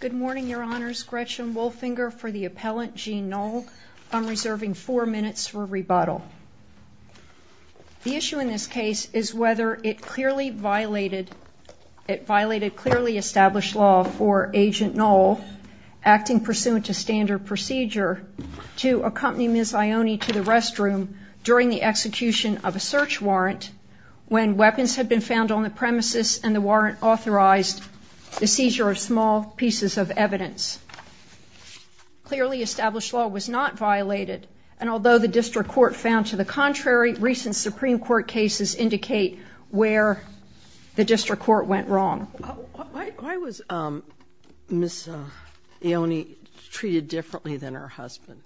Good morning, Your Honors. Gretchen Wolfinger for the appellant Jean Noll. I'm reserving four minutes for rebuttal. The issue in this case is whether it clearly violated, it violated clearly established law for Agent Noll, acting pursuant to standard procedure, to accompany Ms. Ioane to the restroom during the execution of a search warrant when weapons had been found on the crime scene. There are very small pieces of evidence. Clearly established law was not violated and although the district court found to the contrary, recent Supreme Court cases indicate where the district court went wrong. Why was Ms. Ioane treated differently than her husband?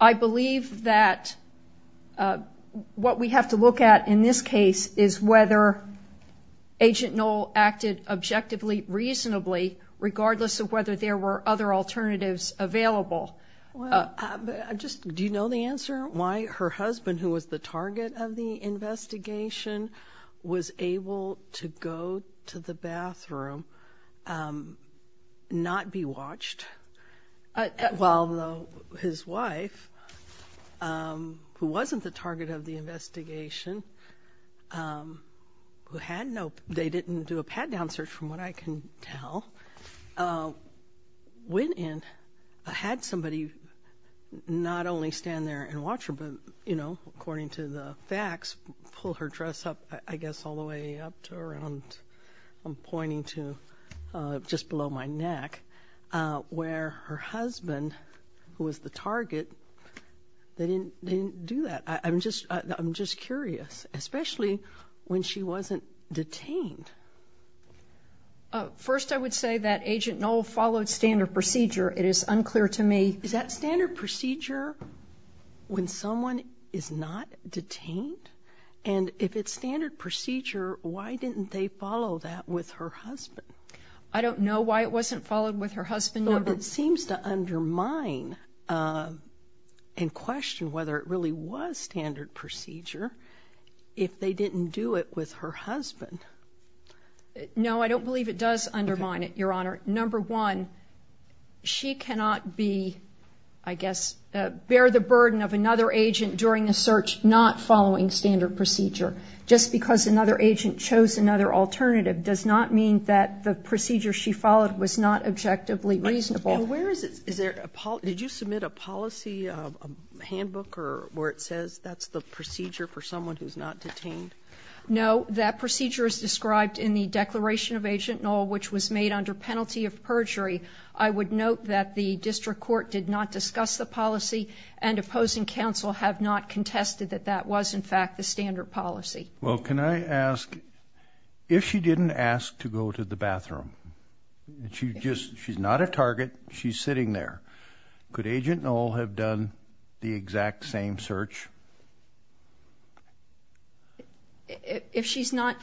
I believe that what we have to look at in this case is whether Agent Noll acted objectively, reasonably, regardless of whether there were other alternatives available. Do you know the answer why her husband, who was the target of the investigation, was able to go to the bathroom, not be watched, while his wife, who wasn't the target of the investigation, who had no, they didn't do a pat-down search from what I can tell, went in, had somebody not only stand there and watch her, but you know, according to the facts, pull her dress up, I guess all the way up to around, I'm pointing to just below my neck, where her husband, who was the target, they didn't do that. I'm just, I'm just curious, especially when she wasn't detained. First, I would say that Agent Noll followed standard procedure. It is unclear to me. Is that standard procedure when someone is not detained? And if it's standard procedure, why didn't they follow that with her husband? I don't know why it wasn't followed with her husband. It seems to undermine and question whether it really was standard procedure if they didn't do it with her husband. No, I don't believe it does undermine it, Your Honor. Number one, she cannot be, I guess, bear the burden of another agent during a search not following standard procedure. Just because another agent chose another alternative does not mean that the procedure she followed was not objectively reasonable. Where is it, is there, did you submit a policy, a handbook, or where it says that's the procedure for someone who's not detained? No, that procedure is described in the Declaration of Agent Noll, which was made under penalty of perjury. I would note that the district court did not discuss the policy and opposing counsel have not contested that that was, in fact, the standard policy. Well, can I ask, if she didn't ask to go to the bathroom, she just, she's not a target, she's sitting there, could Agent Noll have done the exact same search? If she's not...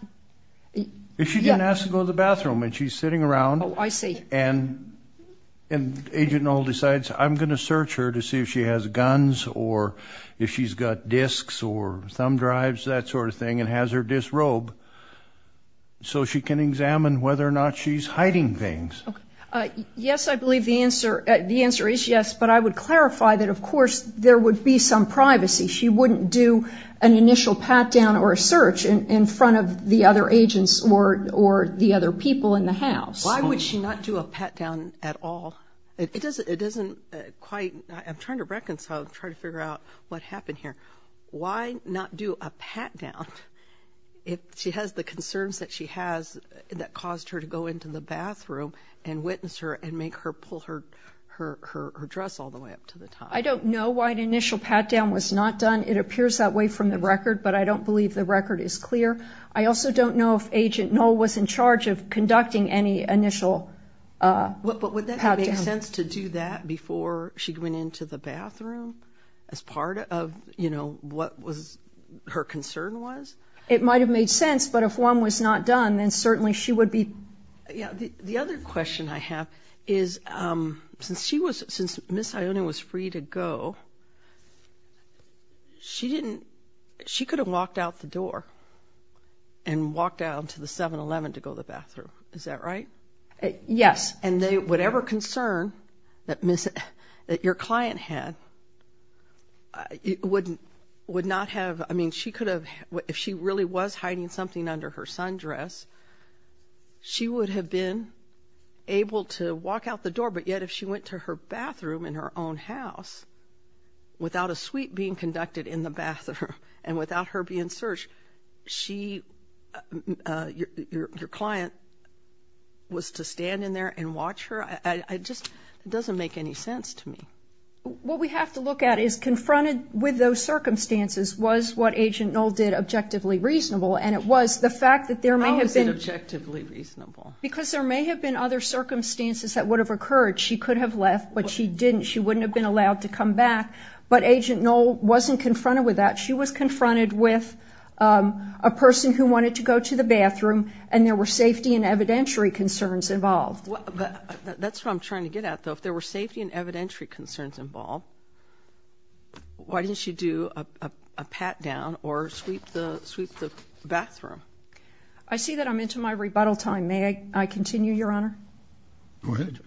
If she didn't ask to go to the bathroom and she's sitting around... Oh, I see. And Agent Noll decides, I'm gonna search her to see if she has guns or if she's got discs or thumb drives, that sort of thing, and has her disc robed so she can The answer is yes, but I would clarify that, of course, there would be some privacy. She wouldn't do an initial pat-down or a search in front of the other agents or the other people in the house. Why would she not do a pat-down at all? It doesn't, it doesn't quite... I'm trying to reconcile, trying to figure out what happened here. Why not do a pat-down if she has the concerns that she has that caused her to go into the bathroom and witness her and make her pull her dress all the way up to the top? I don't know why an initial pat-down was not done. It appears that way from the record, but I don't believe the record is clear. I also don't know if Agent Noll was in charge of conducting any initial... But would that make sense to do that before she went into the bathroom as part of, you know, what was her concern was? It might have made sense, but if one was not She was, since Miss Ione was free to go, she didn't, she could have walked out the door and walked out to the 7-Eleven to go to the bathroom. Is that right? Yes. And they, whatever concern that Miss, that your client had, it wouldn't, would not have, I mean, she could have, if she really was hiding something under her sundress, she would have been able to walk out the door, but yet if she went to her bathroom in her own house without a suite being conducted in the bathroom and without her being searched, she, your client, was to stand in there and watch her? I just, it doesn't make any sense to me. What we have to look at is confronted with those circumstances was what Agent Noll did objectively reasonable, and it was the fact that there may have been... How is it objectively reasonable? Because there may have been other circumstances that would have occurred. She could have left, but she didn't. She wouldn't have been allowed to come back, but Agent Noll wasn't confronted with that. She was confronted with a person who wanted to go to the bathroom and there were safety and evidentiary concerns involved. That's what I'm trying to get at, though. If there were safety and evidentiary concerns involved, why didn't she do a pat down or sweep the bathroom? I see that I'm into my rebuttal time. May I continue, Your Honor? Go ahead.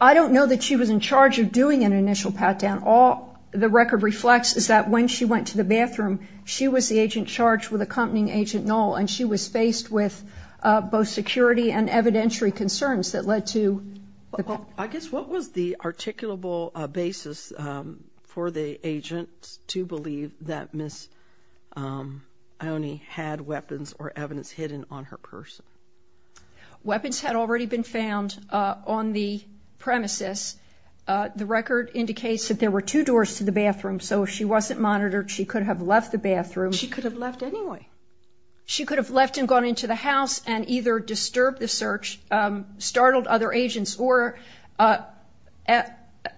I don't know that she was in charge of doing an initial pat down. All the record reflects is that when she went to the bathroom, she was the agent charged with accompanying Agent Noll, and she was faced with both security and evidentiary concerns that led to... I guess, what was the articulable basis for the agent to believe that Ms. Ione had weapons or evidence hidden on her person? Weapons had already been found on the premises. The record indicates that there were two doors to the bathroom, so if she wasn't monitored, she could have left the bathroom. She could have left anyway. She could have left and gone into the house and either disturbed the search, startled other agents, or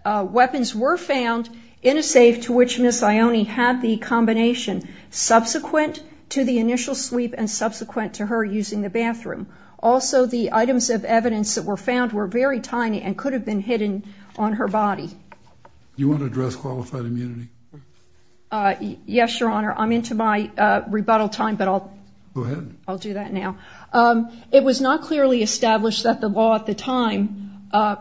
weapons were found in a safe to which Ms. Ione had the combination subsequent to the initial sweep and subsequent to her using the bathroom. Also, the items of evidence that were found were very tiny and could have been hidden on her body. You want to address qualified immunity? Yes, Your Honor. I'm into my rebuttal time, but I'll... Go ahead. I'll do that now. It was not clearly established that the law at the time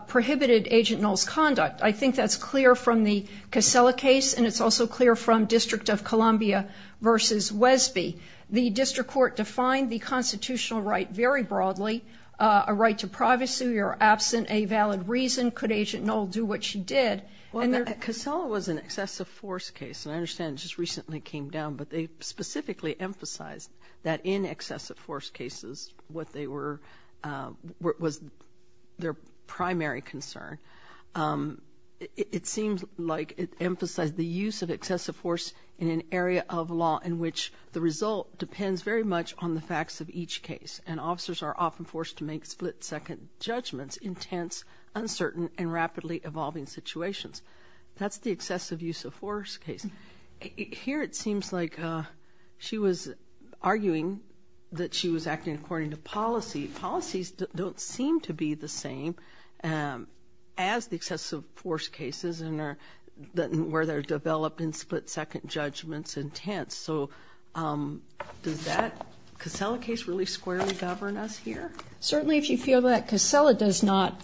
prohibited Agent Noll's conduct. I think that's clear from the Casella case, and it's also clear from District of Columbia v. Wesby. The district court defined the constitutional right very broadly, a right to privacy or absent a valid reason. Could Agent Noll do what she did? Well, the Casella was an excessive force case, and I understand it just recently came down, but they specifically emphasized that in excessive force cases what they were, what was their primary concern. It seems like it emphasized the use of excessive force in an area of law in which the result depends very much on the facts of each case, and officers are often forced to make split-second judgments in tense, uncertain, and rapidly evolving situations. That's the excessive use of force case. Here it seems like she was arguing that she was acting according to policy. Policies don't seem to be the same as the excessive force cases where they're developed in split-second judgments in tense. So does that Casella case really squarely govern us here? Certainly if you feel that Casella does not,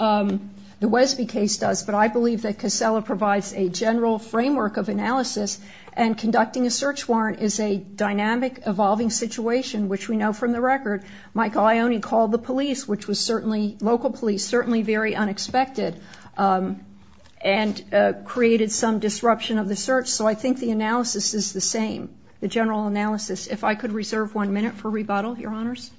the Wesby case does, but I believe that Casella provides a general framework of analysis, and conducting a search warrant is a dynamic, evolving situation, which we know from the record. Michael Ioni called the police, which was certainly, local police, certainly very unexpected, and created some disruption of the search. So I think the analysis is the same, the general analysis. If I could reserve one minute for rebuttal, Your Honors.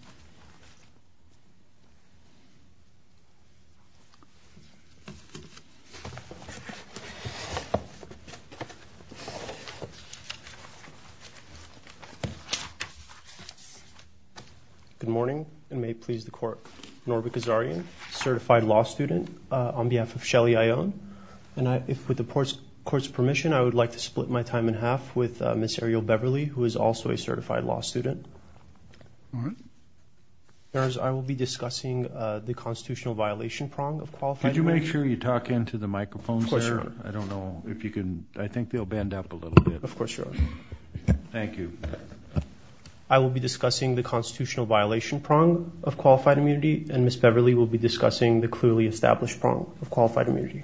Good morning, and may it please the Court. Norbert Gazzarian, certified law student on behalf of Shelley Ioni, and with the Court's permission, I would like to split my time in half with Ms. Ariel Beverly, who is also a certified law student. All right. Your Honors, I will be discussing the constitutional violation prong of qualified law. Could you make sure you talk into the microphones there? I don't know if you can, I think they'll bend up a little bit. Of course, Your Honor. Thank you. I will be discussing the constitutional violation prong of qualified immunity, and Ms. Beverly will be discussing the clearly established prong of qualified immunity.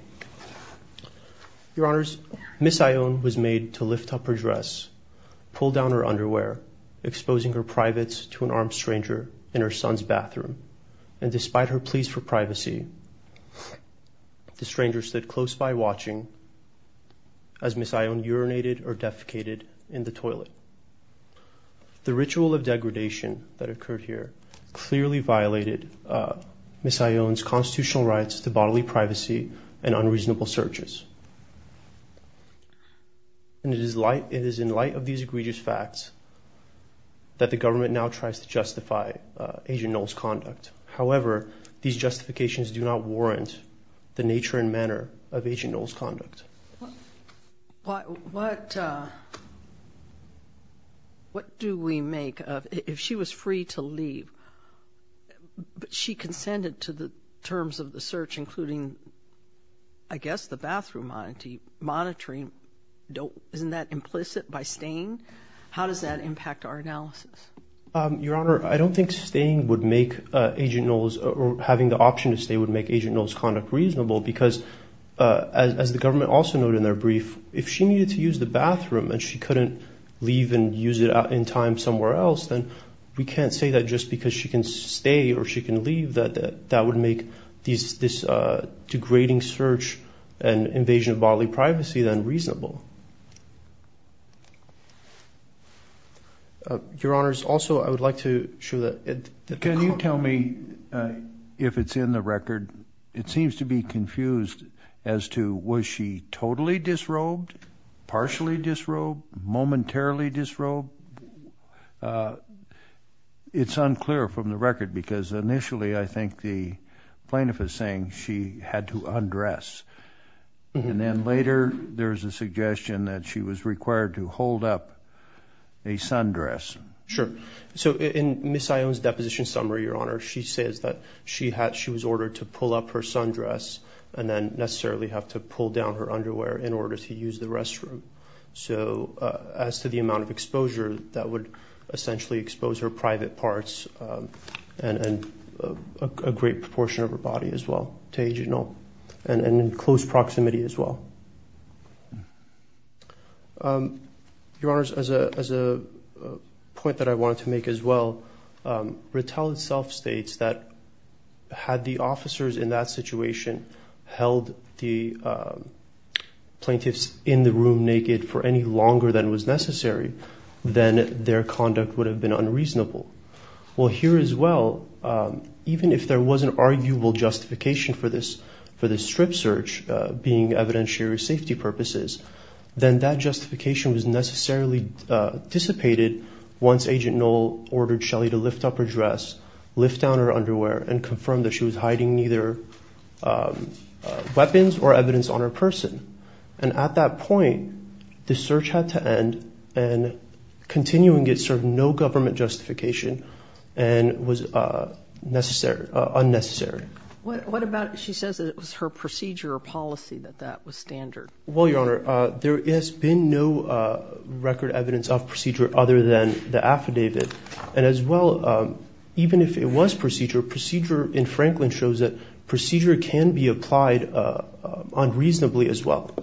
Your Honors, Ms. Ioni was made to lift up her dress, pull down her underwear, exposing her privates to an armed stranger in her son's bathroom, and despite her pleas for privacy, the stranger stood close by watching as Ms. Ioni urinated or defecated in the toilet. The ritual of degradation that occurred here clearly violated Ms. Ioni's constitutional rights to bodily privacy and unreasonable searches, and it is in light of these egregious facts that the government now tries to justify Agent Knowles' conduct. However, these justifications do not warrant the nature and manner of Agent Knowles' conduct. What do we make of, if she was free to leave, but she consented to the terms of the search, including, I guess, the bathroom monitoring, isn't that implicit by staying? How does that impact our analysis? Your Honor, I don't think staying would make Agent Knowles, or having the option to stay would make Agent Knowles' conduct reasonable because, as the government also noted in their brief, if she needed to use the bathroom and she couldn't leave and use it in time somewhere else, then we can't say that just because she can stay or she can leave that that would make this degrading search and invasion of bodily privacy then reasonable. Your Honor, also, I would like to show that... Can you tell me, if it's in the record, it seems to be confused as to was she totally disrobed, partially disrobed, momentarily disrobed? It's unclear from the record because initially, I think the plaintiff is saying she had to undress. And then later, there's a suggestion that she was required to hold up a sundress. Sure. So, in Ms. Sion's deposition summary, Your Honor, she says that she was ordered to pull up her sundress and then necessarily have to pull down her underwear in order to use the restroom. So, as to the amount of exposure, that would essentially expose her to a great proportion of her body as well, and in close proximity as well. Your Honor, as a point that I wanted to make as well, Rattel itself states that had the officers in that situation held the plaintiffs in the room naked for any longer than was even if there was an arguable justification for this strip search being evidentiary safety purposes, then that justification was necessarily dissipated once Agent Knoll ordered Shelley to lift up her dress, lift down her underwear, and confirm that she was hiding neither weapons or evidence on her person. And at that point, the search had to end, and continuing it served no government justification, and was unnecessary. What about, she says it was her procedure or policy that that was standard. Well, Your Honor, there has been no record evidence of procedure other than the affidavit, and as well, even if it was procedure, procedure in Franklin shows that procedure can be applied unreasonably as well.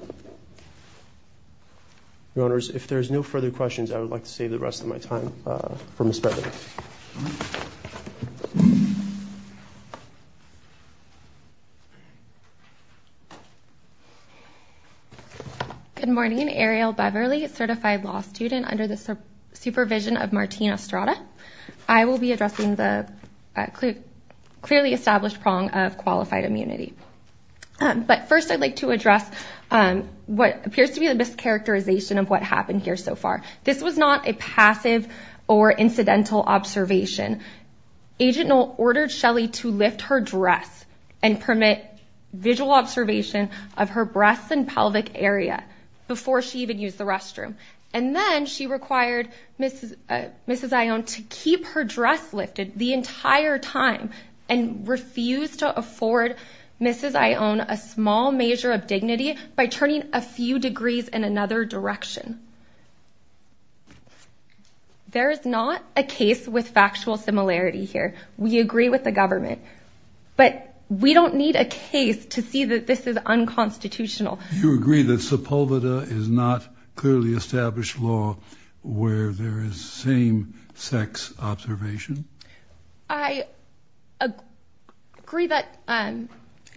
Your Honors, if there's no further questions, I would like to save the rest of my time for Ms. Beverley. Good morning, Ariel Beverley, certified law student under the supervision of Martina Estrada. I will be addressing the clearly established prong of qualified immunity. But first I'd like to address what appears to be the mischaracterization of what happened here so far. This was not a passive or incidental observation. Agent Knoll ordered Shelley to lift her dress and permit visual observation of her breasts and pelvic area before she even used the restroom. And then she required Mrs. Ione to keep her dress lifted the entire time, and refused to afford Mrs. Ione a small measure of dignity by turning a few degrees in another direction. There is not a case with factual similarity here. We agree with the government, but we don't need a case to see that this is unconstitutional. You agree that Sepulveda is not clearly established law where there is same-sex observation? I agree that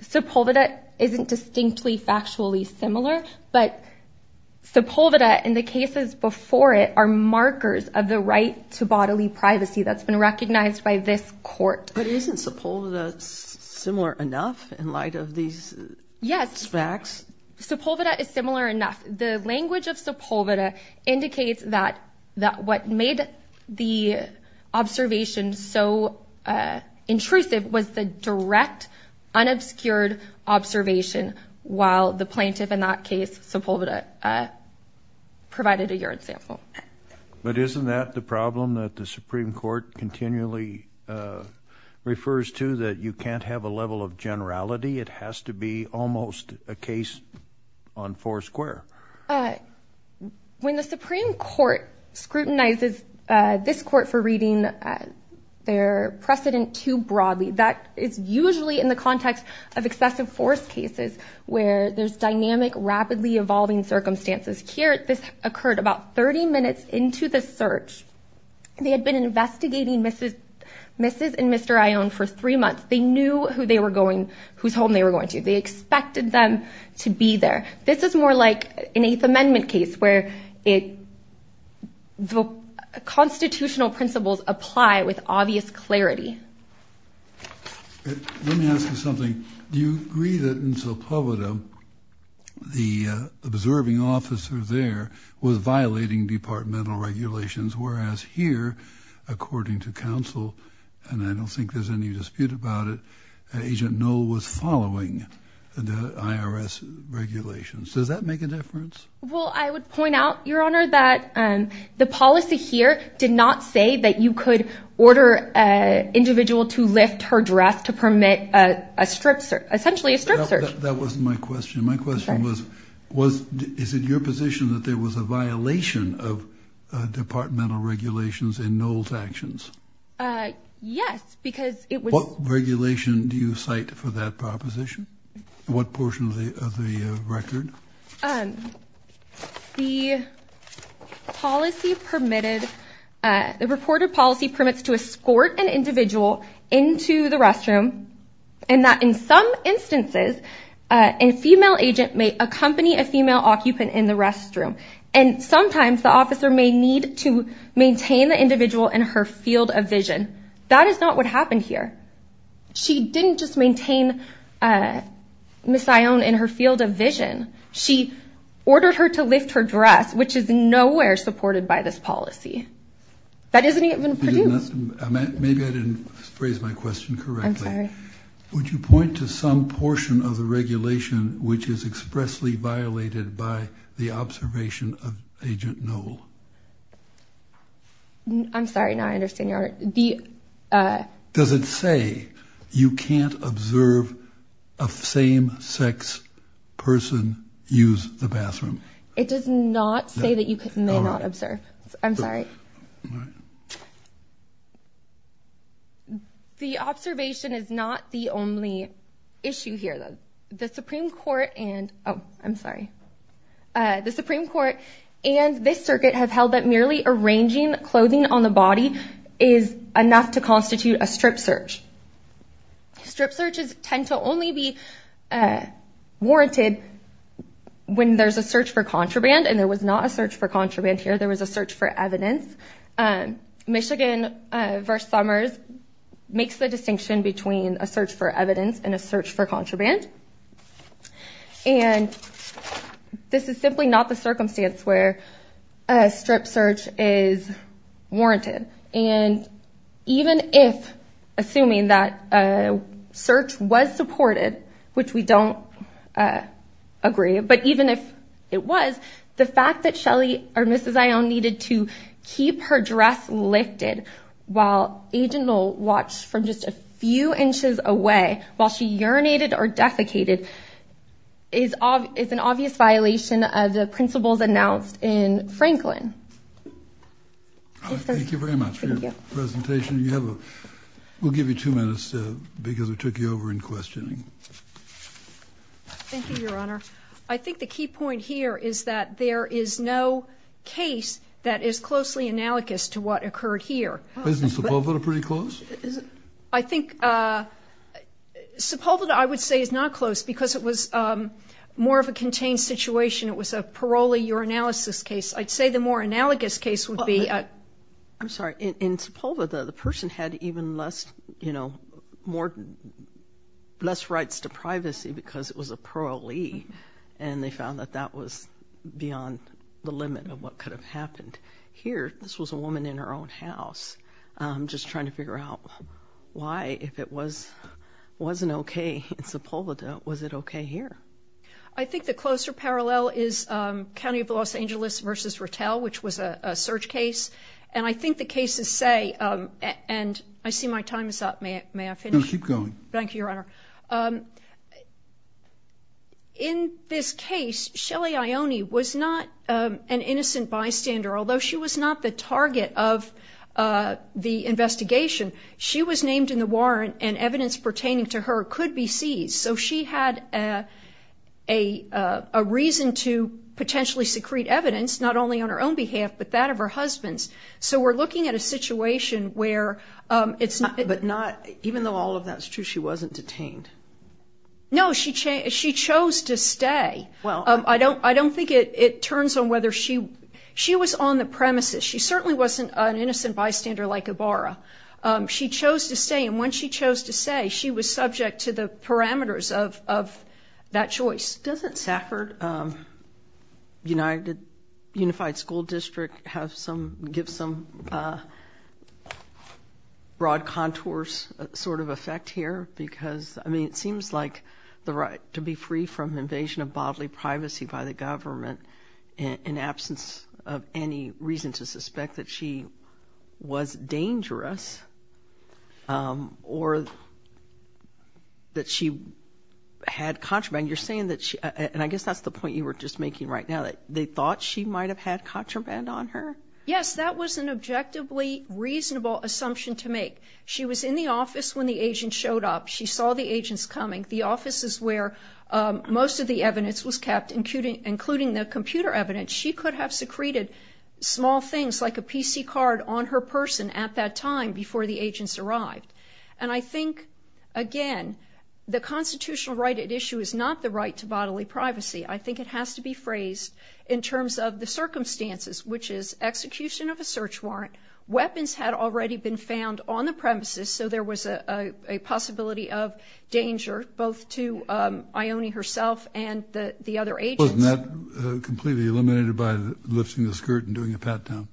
Sepulveda isn't distinctly factually similar, but Sepulveda and the cases before it are markers of the right to bodily privacy that's been recognized by this court. But isn't Sepulveda similar enough in light of these facts? Yes. Sepulveda is similar enough. The language of Sepulveda indicates that what made the observation so intrusive was the direct, unobscured observation while the plaintiff in that case, Sepulveda, provided a urine sample. But isn't that the problem that the Supreme Court continually refers to, that you can't have a level of generality? It has to be almost a case on four square. When the Supreme Court scrutinizes this court for reading their precedent too broadly, that is usually in the context of excessive force cases where there's dynamic, rapidly evolving circumstances. Here, this occurred about 30 minutes into the search. They had been investigating Mrs. and Mr. Ione for three months. They knew whose home they were going to. They expected them to be there. This is more like an Eighth Amendment case where the constitutional principles apply with obvious clarity. Let me ask you something. Do you agree that in Sepulveda, the observing officer there was violating departmental regulations, whereas here, according to counsel, and I don't think there's any dispute about it, that Agent Knoll was following the IRS regulations. Does that make a difference? Well, I would point out, Your Honor, that the policy here did not say that you could order an individual to lift her dress to permit a strip search, essentially a strip search. That wasn't my question. My question was, is it your position that there was a violation of departmental regulations in Knoll's actions? Yes, because it was... What regulation do you cite for that proposition? What portion of the record? The policy permitted, the reported policy permits to escort an individual into the restroom and that in some instances, a female agent may accompany a female occupant in the restroom. And sometimes the officer may need to maintain the individual in her field of vision. That is not what happened here. She didn't just maintain Miss Ione in her field of vision. She ordered her to lift her dress, which is nowhere supported by this policy. That isn't even Purdue. Maybe I didn't phrase my question correctly. I'm sorry. Would you point to some portion of the regulation which is expressly violated by the observation of Agent Knoll? I'm sorry. Now I understand your... Does it say you can't observe a same-sex person use the bathroom? It does not say that you may not observe. I'm sorry. The observation is not the only issue here. The Supreme Court and... Oh, I'm sorry. The Circuit have held that merely arranging clothing on the body is enough to constitute a strip search. Strip searches tend to only be warranted when there's a search for contraband and there was not a search for contraband here. There was a search for evidence. Michigan v. Summers makes the distinction between a search for evidence and a search for contraband. This is simply not the circumstance where a strip search is warranted. Even if, assuming that a search was supported, which we don't agree, but even if it was, the fact that Ms. Ione needed to keep her dress lifted while Agent Knoll watched from just a few inches away, while she urinated or defecated, is an obvious violation of the principles announced in Franklin. Thank you very much for your presentation. We'll give you two minutes because we took you over in questioning. Thank you, Your Honor. I think the key point here is that there is no case that is closely analogous to what occurred here. Isn't Sepulveda pretty close? I think Sepulveda, I would say, is not close because it was more of a contained situation. It was a parolee urinalysis case. I'd say the more analogous case would be... I'm sorry. In Sepulveda, the person had even less, you know, more, less rights to privacy because it was a parolee and they found that that was beyond the limit of what could have happened in the house. I'm just trying to figure out why, if it wasn't okay in Sepulveda, was it okay here? I think the closer parallel is County of Los Angeles v. Rattell, which was a search case. And I think the cases say, and I see my time is up. May I finish? No, keep going. Thank you, Your Honor. In this case, Shelly Ione was not an innocent bystander, although she was not the target of the investigation. She was named in the warrant and evidence pertaining to her could be seized. So she had a reason to potentially secrete evidence, not only on her own behalf, but that of her husband's. So we're looking at a situation where it's not... But not, even though all of that's true, she wasn't detained? No, she chose to stay. Well... I don't think it turns on whether she... She was on the premises. She certainly wasn't an innocent bystander like Ibarra. She chose to stay, and when she chose to stay, she was subject to the parameters of that choice. Doesn't Safford Unified School District give some broad contours sort of effect here? Because I mean, it seems like the right to be free from invasion of bodily privacy by the government in absence of any reason to suspect that she was dangerous or that she had contraband. You're saying that she... And I guess that's the point you were just making right now. They thought she might have had contraband on her? Yes, that was an objectively reasonable assumption to make. She was in the office when the agent showed up. She saw the agents coming. The offices where most of the evidence was kept, including the computer evidence, she could have secreted small things like a PC card on her person at that time before the agents arrived. And I think, again, the constitutional right at issue is not the right to bodily privacy. I think it has to be phrased in terms of the circumstances, which is execution of a search warrant, weapons had already been a possibility of danger, both to Ione herself and the other agents. Wasn't that completely eliminated by lifting the skirt and doing a pat down?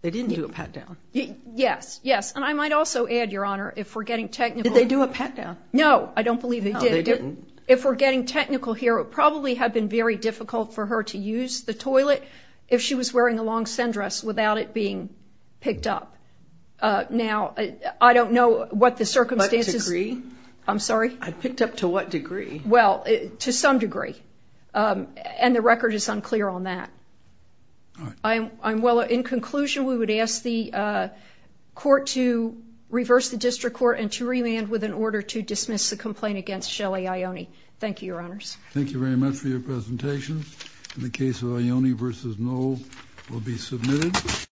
They didn't do a pat down. Yes, yes. And I might also add, Your Honor, if we're getting technical... Did they do a pat down? No, I don't believe they did. No, they didn't. If we're getting technical here, it probably had been very difficult for her to use the toilet if she was wearing a long sundress without it being picked up. Now, I don't know what the circumstances... What degree? I'm sorry? Picked up to what degree? Well, to some degree. And the record is unclear on that. All right. Well, in conclusion, we would ask the court to reverse the district court and to remand with an order to dismiss the complaint against Shelly Ione. Thank you, Your Honors. Thank you very much for your presentation. And the case of Ione v. Noll will be submitted.